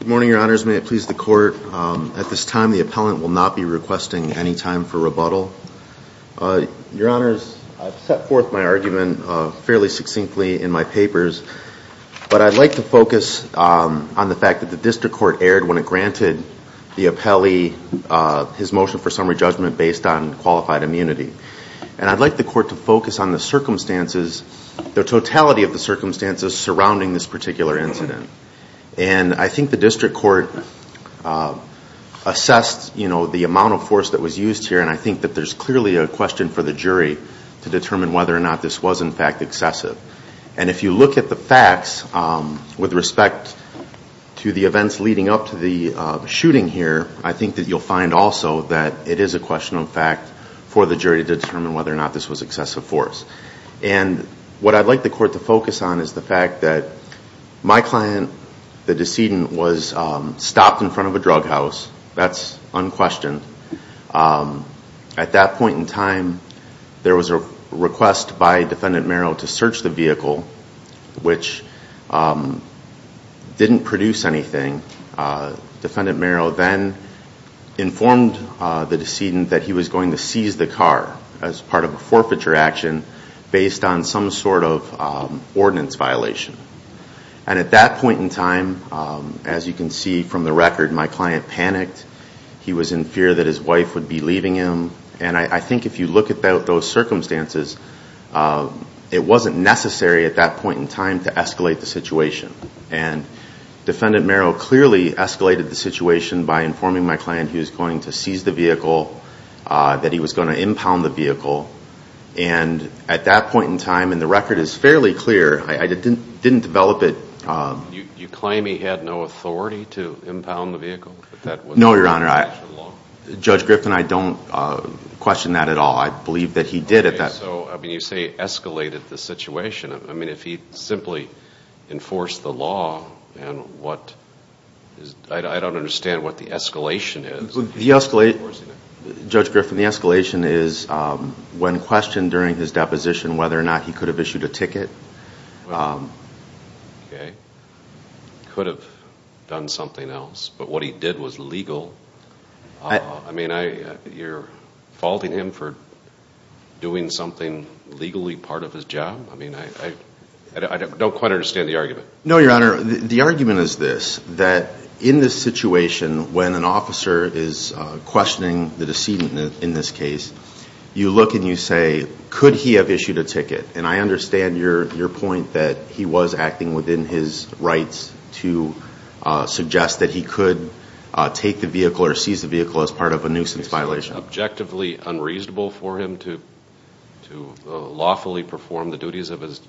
Good morning, your honors. May it please the court. At this time, the appellant will not be requesting any time for rebuttal. Your honors, I've set forth my argument fairly succinctly in my papers, but I'd like to focus on the fact that the district court erred when it granted the appellee his motion for summary judgment based on qualified immunity. And I'd like the court to focus on the circumstances, the totality of the circumstances surrounding this particular incident. And I think the district court assessed, you know, the amount of force that was used here, and I think that there's clearly a question for the jury to determine whether or not this was in fact excessive. And if you look at the facts with respect to the events leading up to the shooting here, I think that you'll find also that it is a question of fact for the jury to determine whether or not this was excessive force. And I'd like the court to focus on is the fact that my client, the decedent, was stopped in front of a drug house. That's unquestioned. At that point in time, there was a request by defendant Merrill to search the vehicle, which didn't produce anything. Defendant Merrill then informed the decedent that he was going to seize the car as part of a forfeiture action based on some sort of ordinance violation. And at that point in time, as you can see from the record, my client panicked. He was in fear that his wife would be leaving him. And I think if you look at those circumstances, it wasn't necessary at that point in time to escalate the situation. And defendant Merrill clearly escalated the situation by informing my client he was going to seize the vehicle, that he was going to impound the vehicle. And at that point in time, and the record is fairly clear, I didn't develop it. You claim he had no authority to impound the vehicle? No, Your Honor. Judge Griffin and I don't question that at all. I believe that he did at that point. So you say he escalated the situation. I mean, if he simply enforced the law, I don't understand what the escalation is. Judge Griffin, the escalation is when questioned during his deposition whether or not he could have issued a ticket. Okay. He could have done something else. But what he did was legal. I mean, you're faulting him for doing something legally part of his job? I mean, I don't quite understand the argument. No, Your Honor. The argument is this, that in this situation, when an officer is questioning the decedent in this case, you look and you say, could he have issued a ticket? And I understand your point that he was acting within his rights to suggest that he could take the vehicle or seize the vehicle as part of a nuisance violation. Is it objectively unreasonable for him to lawfully perform the duties of his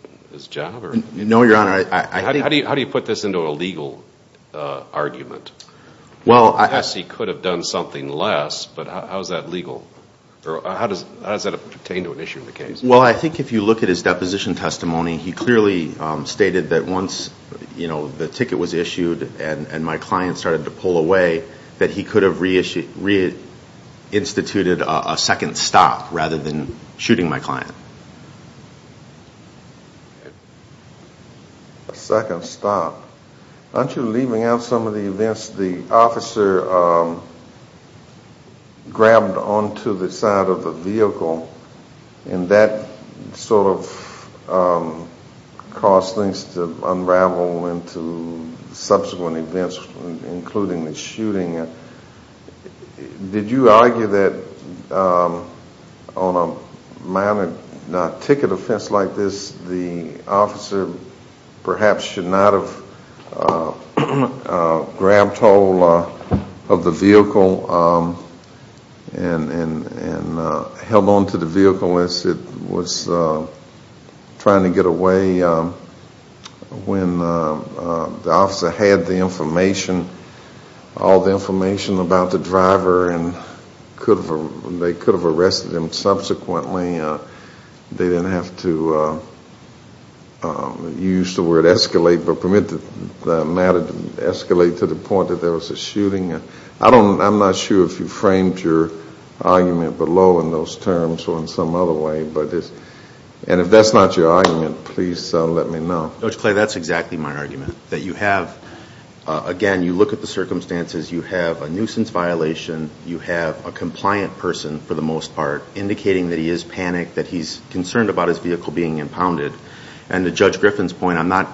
job? No, Your Honor. How do you put this into a legal argument? Yes, he could have done something less, but how is that legal? Or how does that pertain to an issue in the case? Well, I think if you look at his deposition testimony, he clearly stated that once the ticket was issued and my client started to pull away, that he could have re-instituted a second stop rather than shooting my client. A second stop? Aren't you leaving out some of the events the officer grabbed onto the side of the vehicle and that sort of caused things to unravel into subsequent events, including the shooting? Did you argue that on a ticket offense like this, the officer perhaps should not have grabbed hold of the vehicle and held onto the vehicle as it was trying to get away when the officer had the information, all the information about the driver and they could have arrested him subsequently. They didn't have to use the word escalate but permit the matter to escalate to the point that there was a shooting. I'm not sure if you framed your argument below in those terms or in some other way. If that's not your argument, please let me know. Judge Clay, that's exactly my argument. That you have, again, you look at the circumstances, you have a nuisance violation, you have a compliant person for the most part indicating that he is panicked, that he's concerned about his vehicle being impounded. And to Judge Griffin's point, I'm not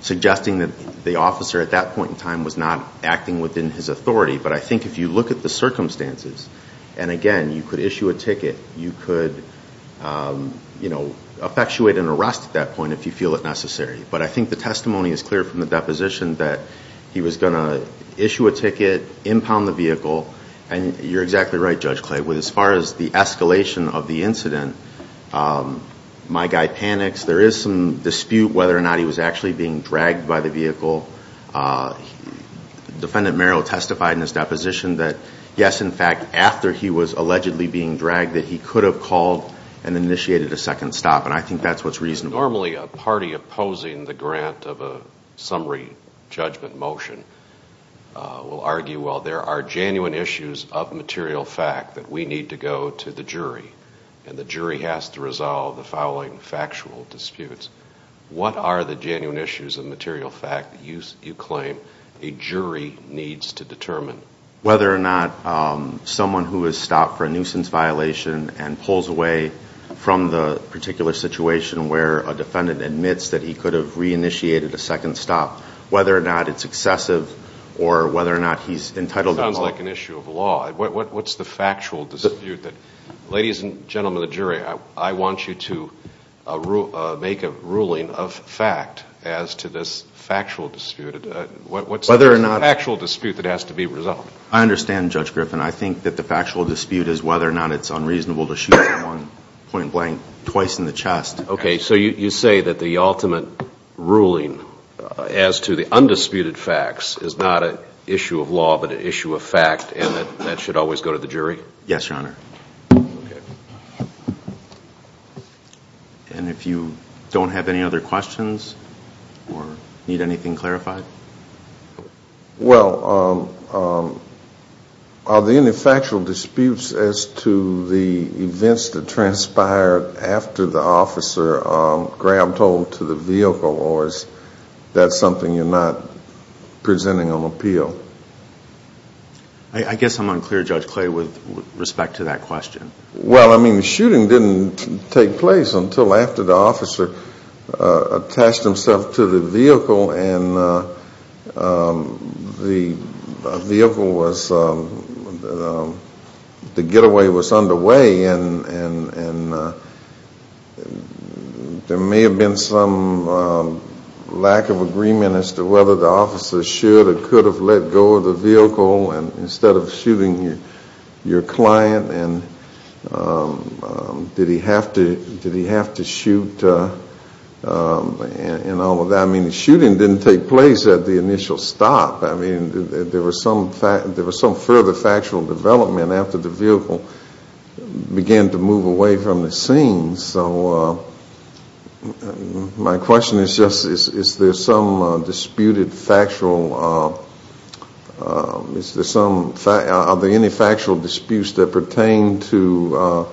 suggesting that the officer at that point in time was not acting within his authority. But I think if you look at the circumstances, and again, you could issue a ticket, you could effectuate an arrest at that point if you feel it necessary. But I think the testimony is clear from the deposition that he was going to issue a ticket, impound the vehicle, and you're exactly right, Judge Clay, as far as the escalation of the incident, my guy panics, there is some dispute whether or not he was actually being dragged by the vehicle. Defendant Merrill testified in his deposition that yes, in fact, after he was allegedly being dragged that he could have called and initiated a second stop. And I think that's what's reasonable. Normally a party opposing the grant of a summary judgment motion will argue, well, there are genuine issues of material fact that we need to go to the jury. And the jury has to resolve the following factual disputes. What are the genuine issues of material fact that you claim a jury needs to determine? Whether or not someone who has stopped for a nuisance violation and pulls away from the particular situation where a defendant admits that he could have re-initiated a second stop, whether or not it's excessive, or whether or not he's entitled to call. It sounds like an issue of law. What's the factual dispute that, ladies and gentlemen of the jury, I want you to make a ruling of fact as to this factual dispute. What's the factual dispute that has to be resolved? I understand, Judge Griffin. I think that the factual dispute is whether or not it's unreasonable to shoot at one point blank twice in the chest. Okay. So you say that the ultimate ruling as to the undisputed facts is not an issue of law but an issue of fact and that that should always go to the jury? Yes, Your Honor. Okay. And if you don't have any other questions or need anything clarified? Well, are the factual disputes as to the events that transpired after the officer grabbed hold to the vehicle or is that something you're not presenting on appeal? I guess I'm unclear, Judge Clay, with respect to that question. Well, I mean, the shooting didn't take place until after the officer attached himself to the vehicle and the vehicle was, the getaway was underway and there may have been some lack of agreement as to whether the officer should or could have let go of the vehicle instead of shooting your client and did he have to shoot and all of that. I mean, the shooting didn't take place at the initial stop. I mean, there was some further factual development after the vehicle began to move away from the scene. And so my question is just is there some disputed factual, are there any factual disputes that pertain to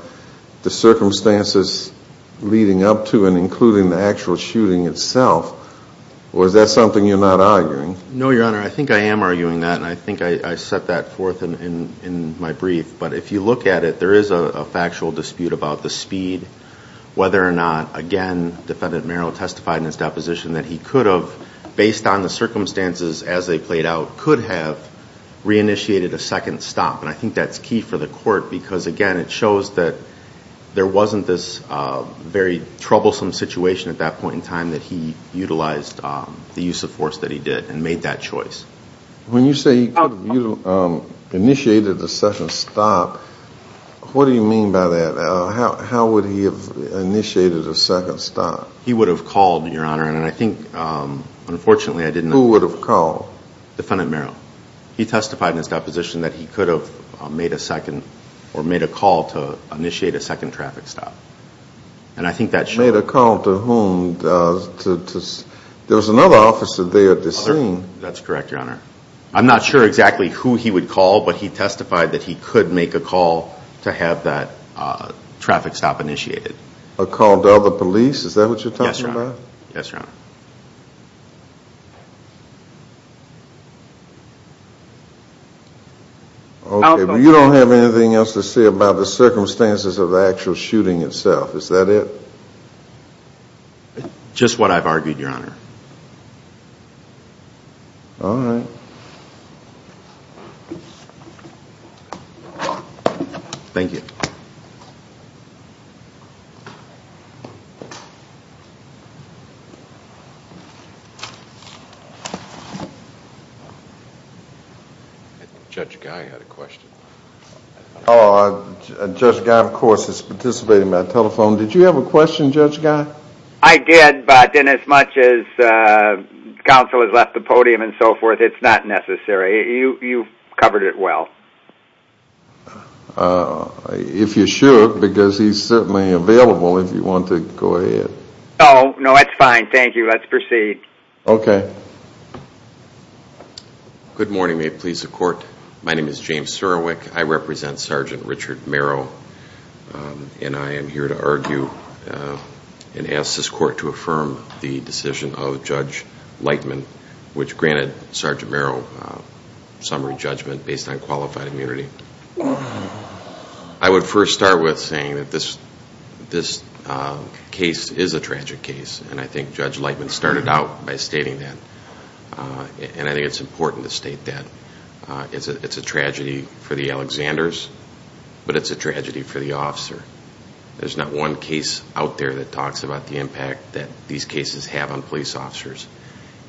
the circumstances leading up to and including the actual shooting itself or is that something you're not arguing? No, Your Honor. I think I am arguing that and I think I set that forth in my brief. But if you look at it, there is a factual dispute about the speed, whether or not, again, Defendant Merrill testified in his deposition that he could have, based on the circumstances as they played out, could have reinitiated a second stop. And I think that's key for the court because, again, it shows that there wasn't this very troublesome situation at that point in time that he utilized the use of force that he did and made that choice. When you say he could have initiated a second stop, what do you mean by that? How would he have initiated a second stop? He would have called, Your Honor, and I think, unfortunately, I didn't... Who would have called? Defendant Merrill. He testified in his deposition that he could have made a second or made a call to initiate a second traffic stop. And I think that shows... Made a call to whom? There was another officer there at the scene. That's correct, Your Honor. I'm not sure exactly who he would call, but he testified that he could make a call to have that traffic stop initiated. A call to other police? Is that what you're talking about? Yes, Your Honor. Okay, but you don't have anything else to say about the circumstances of the actual shooting itself, is that it? Just what I've argued, Your Honor. All right. Thank you. Judge Guy had a question. Judge Guy, of course, is participating by telephone. Did you have a question, Judge Guy? I did, but then as much as counsel has left the podium and so forth, it's not necessary. You've covered it well. If you should, because he's certainly available if you want to go ahead. No, no, that's fine. Thank you. Let's proceed. Okay. Good morning. May it please the court. My name is James Surowiec. I represent Sergeant Richard Merrow, and I am here to argue and ask this court to affirm the decision of Judge Lightman, which granted Sergeant Merrow summary judgment based on qualified immunity. I would first start with saying that this case is a tragic case, and I think Judge Lightman started out by stating that, and I think it's important to state that. It's a tragedy for the Alexanders, but it's a tragedy for the officer. There's not one case out there that talks about the impact that these cases have on police officers.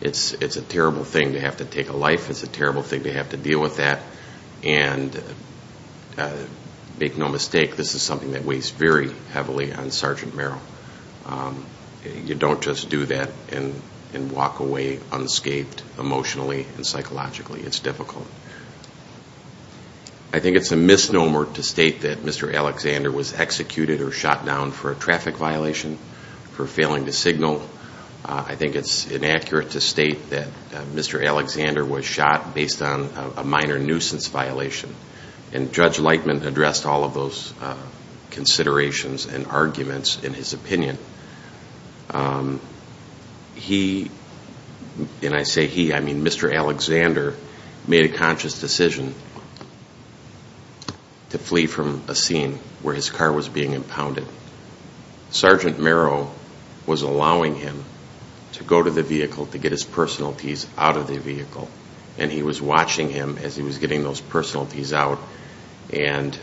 It's a terrible thing to have to take a life. It's a terrible thing to have to deal with that, and make no mistake, this is something that weighs very heavily on Sergeant Merrow. You don't just do that and walk away unscathed emotionally and psychologically. It's difficult. I think it's a misnomer to state that Mr. Alexander was executed or shot down for a traffic violation, for failing to signal. I think it's inaccurate to state that Mr. Alexander was shot based on a minor nuisance violation, and Judge Lightman addressed all of those considerations and arguments in his opinion. He, and I say he, I mean Mr. Alexander, made a conscious decision to flee from a scene where his car was being impounded. Sergeant Merrow was allowing him to go to the vehicle to get his personalities out of the vehicle, and he was watching him as he was getting those personalities out, and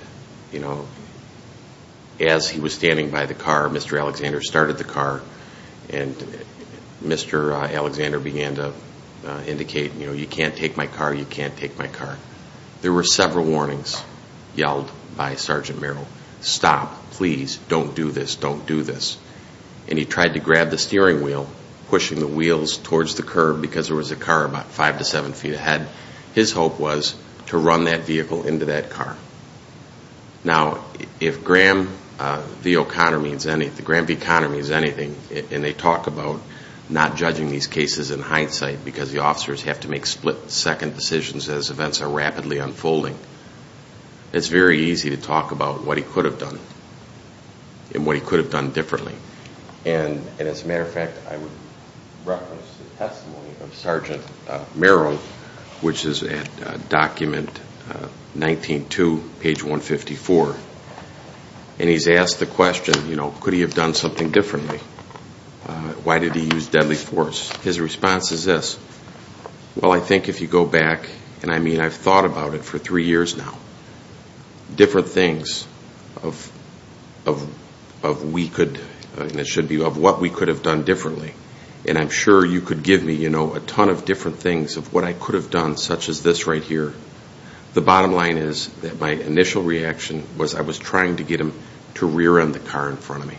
as he was standing by the car, Mr. Alexander started the car and Mr. Alexander began to indicate, you can't take my car, you can't take my car. There were several warnings yelled by Sergeant Merrow. Stop, please, don't do this, don't do this, and he tried to grab the steering wheel, pushing the wheels towards the curb because there was a car about five to seven feet ahead. His hope was to run that vehicle into that car. Now if Graham v. O'Connor means anything, and they talk about not judging these cases in hindsight because the officers have to make split second decisions as events are rapidly unfolding, it's very easy to talk about what he could have done and what he could have done differently, and as a matter of fact, I would reference the testimony of Sergeant Merrow, which is at document 19-2, page 154, and he's asked the question, you know, could he have done something differently? Why did he use deadly force? His response is this, well, I think if you go back, and I mean, I've thought about it for three years now, different things of what we could have done differently, and I'm sure you could give me, you know, a ton of different things of what I could have done, such as this right here. The bottom line is that my initial reaction was I was trying to get him to rear end the car in front of me.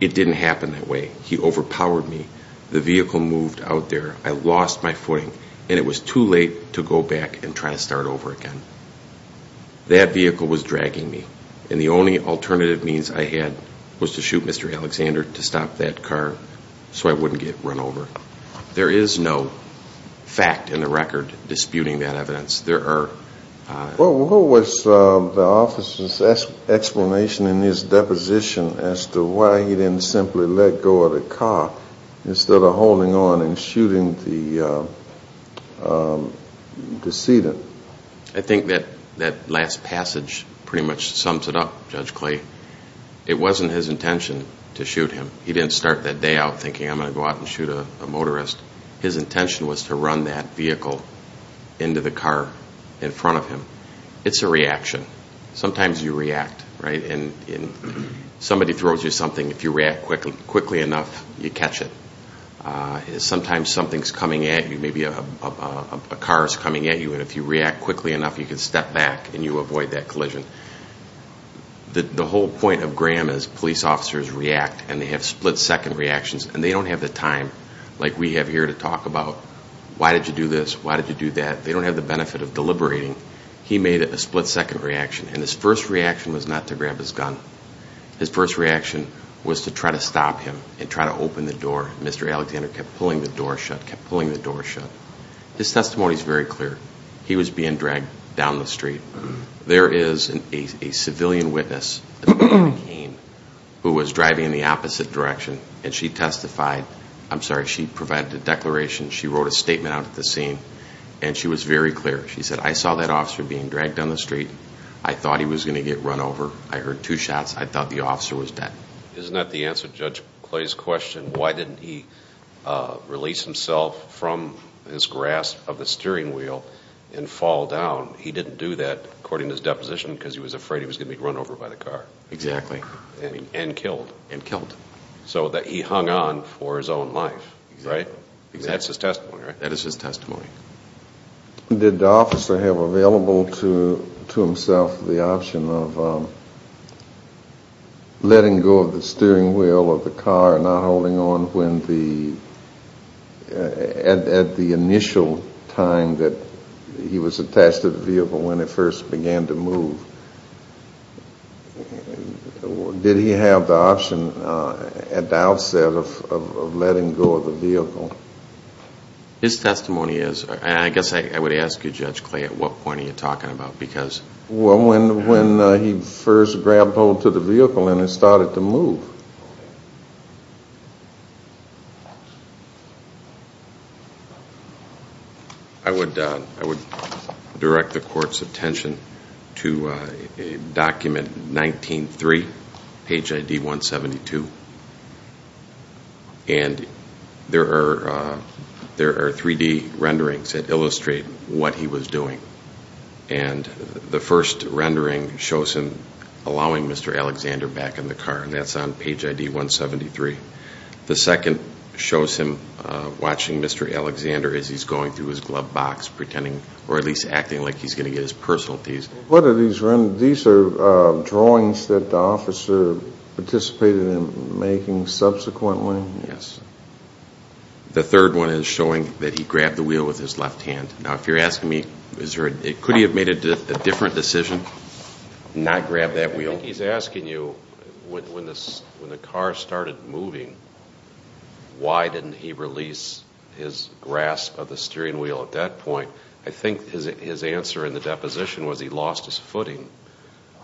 It didn't happen that way. He overpowered me. The vehicle moved out there. I lost my footing, and it was too late to go back and try to start over again. That vehicle was dragging me, and the only alternative means I had was to shoot Mr. Alexander to stop that car so I wouldn't get run over. There is no fact in the record disputing that evidence. Well, what was the officer's explanation in his deposition as to why he didn't simply let go of the car instead of holding on and shooting the decedent? I think that that last passage pretty much sums it up, Judge Clay. It wasn't his intention to shoot him. He didn't start that day out thinking I'm going to go out and shoot a motorist. His intention was to get that vehicle into the car in front of him. It's a reaction. Sometimes you react, right? And somebody throws you something. If you react quickly enough, you catch it. Sometimes something's coming at you. Maybe a car's coming at you, and if you react quickly enough, you can step back, and you avoid that collision. The whole point of Graham is police officers react, and they have split-second reactions, and they don't have the time like we have here to talk about, why did you do this? Why did you do that? They don't have the benefit of deliberating. He made a split-second reaction, and his first reaction was not to grab his gun. His first reaction was to try to stop him and try to open the door. Mr. Alexander kept pulling the door shut, kept pulling the door shut. His testimony's very clear. He was being dragged down the street. There is a civilian witness, who was driving in the opposite direction, and she testified. I'm sorry, she provided a declaration. She wrote a statement out at the scene, and she was very clear. She said, I saw that officer being dragged down the street. I thought he was going to get run over. I heard two shots. I thought the officer was dead. Isn't that the answer to Judge Clay's question? Why didn't he release himself from his grasp of the steering wheel and fall down? He didn't do that, according to his deposition, because he was afraid he was going to be run over by the car. Exactly. And killed. And killed. So he hung on for his own life. Right? That's his testimony, right? That is his testimony. Did the officer have available to himself the option of letting go of the steering wheel of the car and not holding on at the initial time that he was attached to the vehicle when it first began to move? Did he have the option at the outset of letting go of the vehicle? His testimony is, and I guess I would ask you, Judge Clay, at what point are you talking about? When he first grabbed hold of the vehicle and it started to move. I would direct the court's attention to document 19-3, page ID 172. And there are 3-D renderings that illustrate what he was doing. And the first rendering shows him allowing Mr. Alexander back in the car, and that's on page ID 173. The second shows him watching Mr. Alexander as he's going through his glove box, pretending, or at least acting like he's going to get his personalties. What are these renderings? These are drawings that the officer participated in making subsequently? Yes. The third one is showing that he grabbed the wheel with his left hand. Now, if you're asking me, could he have made a different decision and not grabbed that wheel? He's asking you, when the car started moving, why didn't he release his grasp of the steering wheel at that point? I think his answer in the deposition was he lost his footing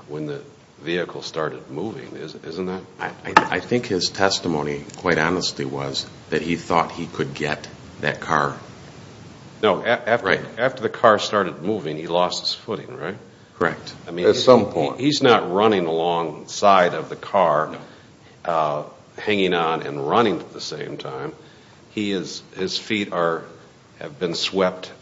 when the vehicle started moving, isn't that? I think his testimony, quite honestly, was that he thought he could get that car. No, after the car started moving, he lost his footing, right? Correct. At some point. He's not running alongside of the car, hanging on and running at the same time. His feet have been swept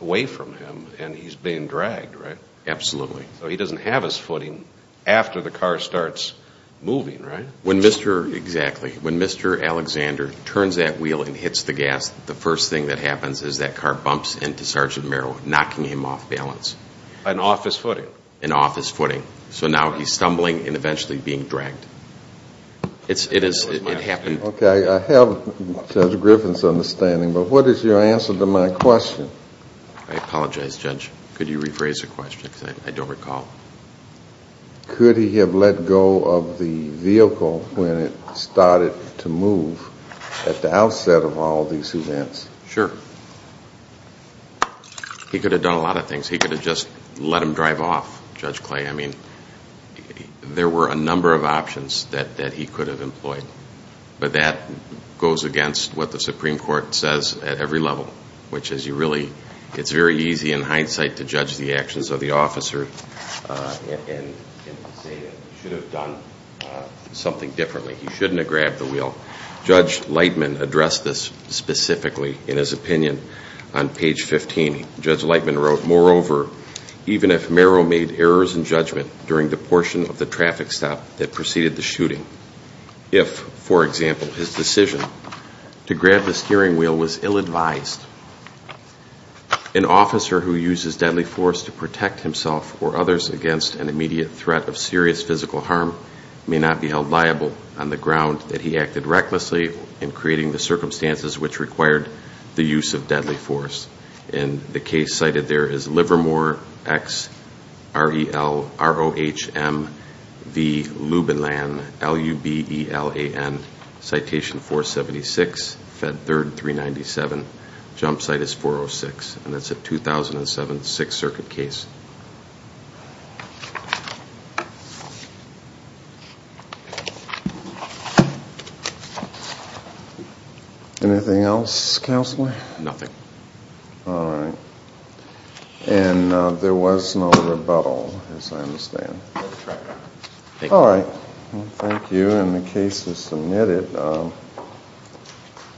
away from him, and he's being dragged, right? Absolutely. So he doesn't have his footing after the car starts moving, right? When Mr. Alexander turns that wheel and hits the gas, the first thing that happens is that car bumps into Sergeant Merrill, knocking him off balance. And off his footing? And off his footing. So now he's stumbling and eventually being dragged. It happened. Okay. I have Judge Griffin's understanding, but what is your answer to my question? I apologize, Judge. Could you rephrase the question? Because I don't recall. Could he have let go of the vehicle when it started to move at the outset of all these events? Sure. He could have done a lot of things. He could have just let him drive off, Judge Clay. I mean, there were a number of options that he could have employed. But that goes against what the it's very easy in hindsight to judge the actions of the officer and say that he should have done something differently. He shouldn't have grabbed the wheel. Judge Lightman addressed this specifically in his opinion on page 15. Judge Lightman wrote, moreover, even if Merrill made errors in judgment during the portion of the traffic stop that preceded the shooting, if, for example, his decision to grab the steering wheel was ill advised, an officer who uses deadly force to protect himself or others against an immediate threat of serious physical harm may not be held liable on the ground that he acted recklessly in creating the circumstances which required the use of deadly force. And the case cited there is Livermore xrelrohmvlubelan, citation 476, Fed 3rd 397, jump site is 406. And that's a 2007 Sixth Circuit case. Anything else, Counselor? Nothing. All right. And there was no rebuttal, as I understand. All right. Thank you. And the case is submitted.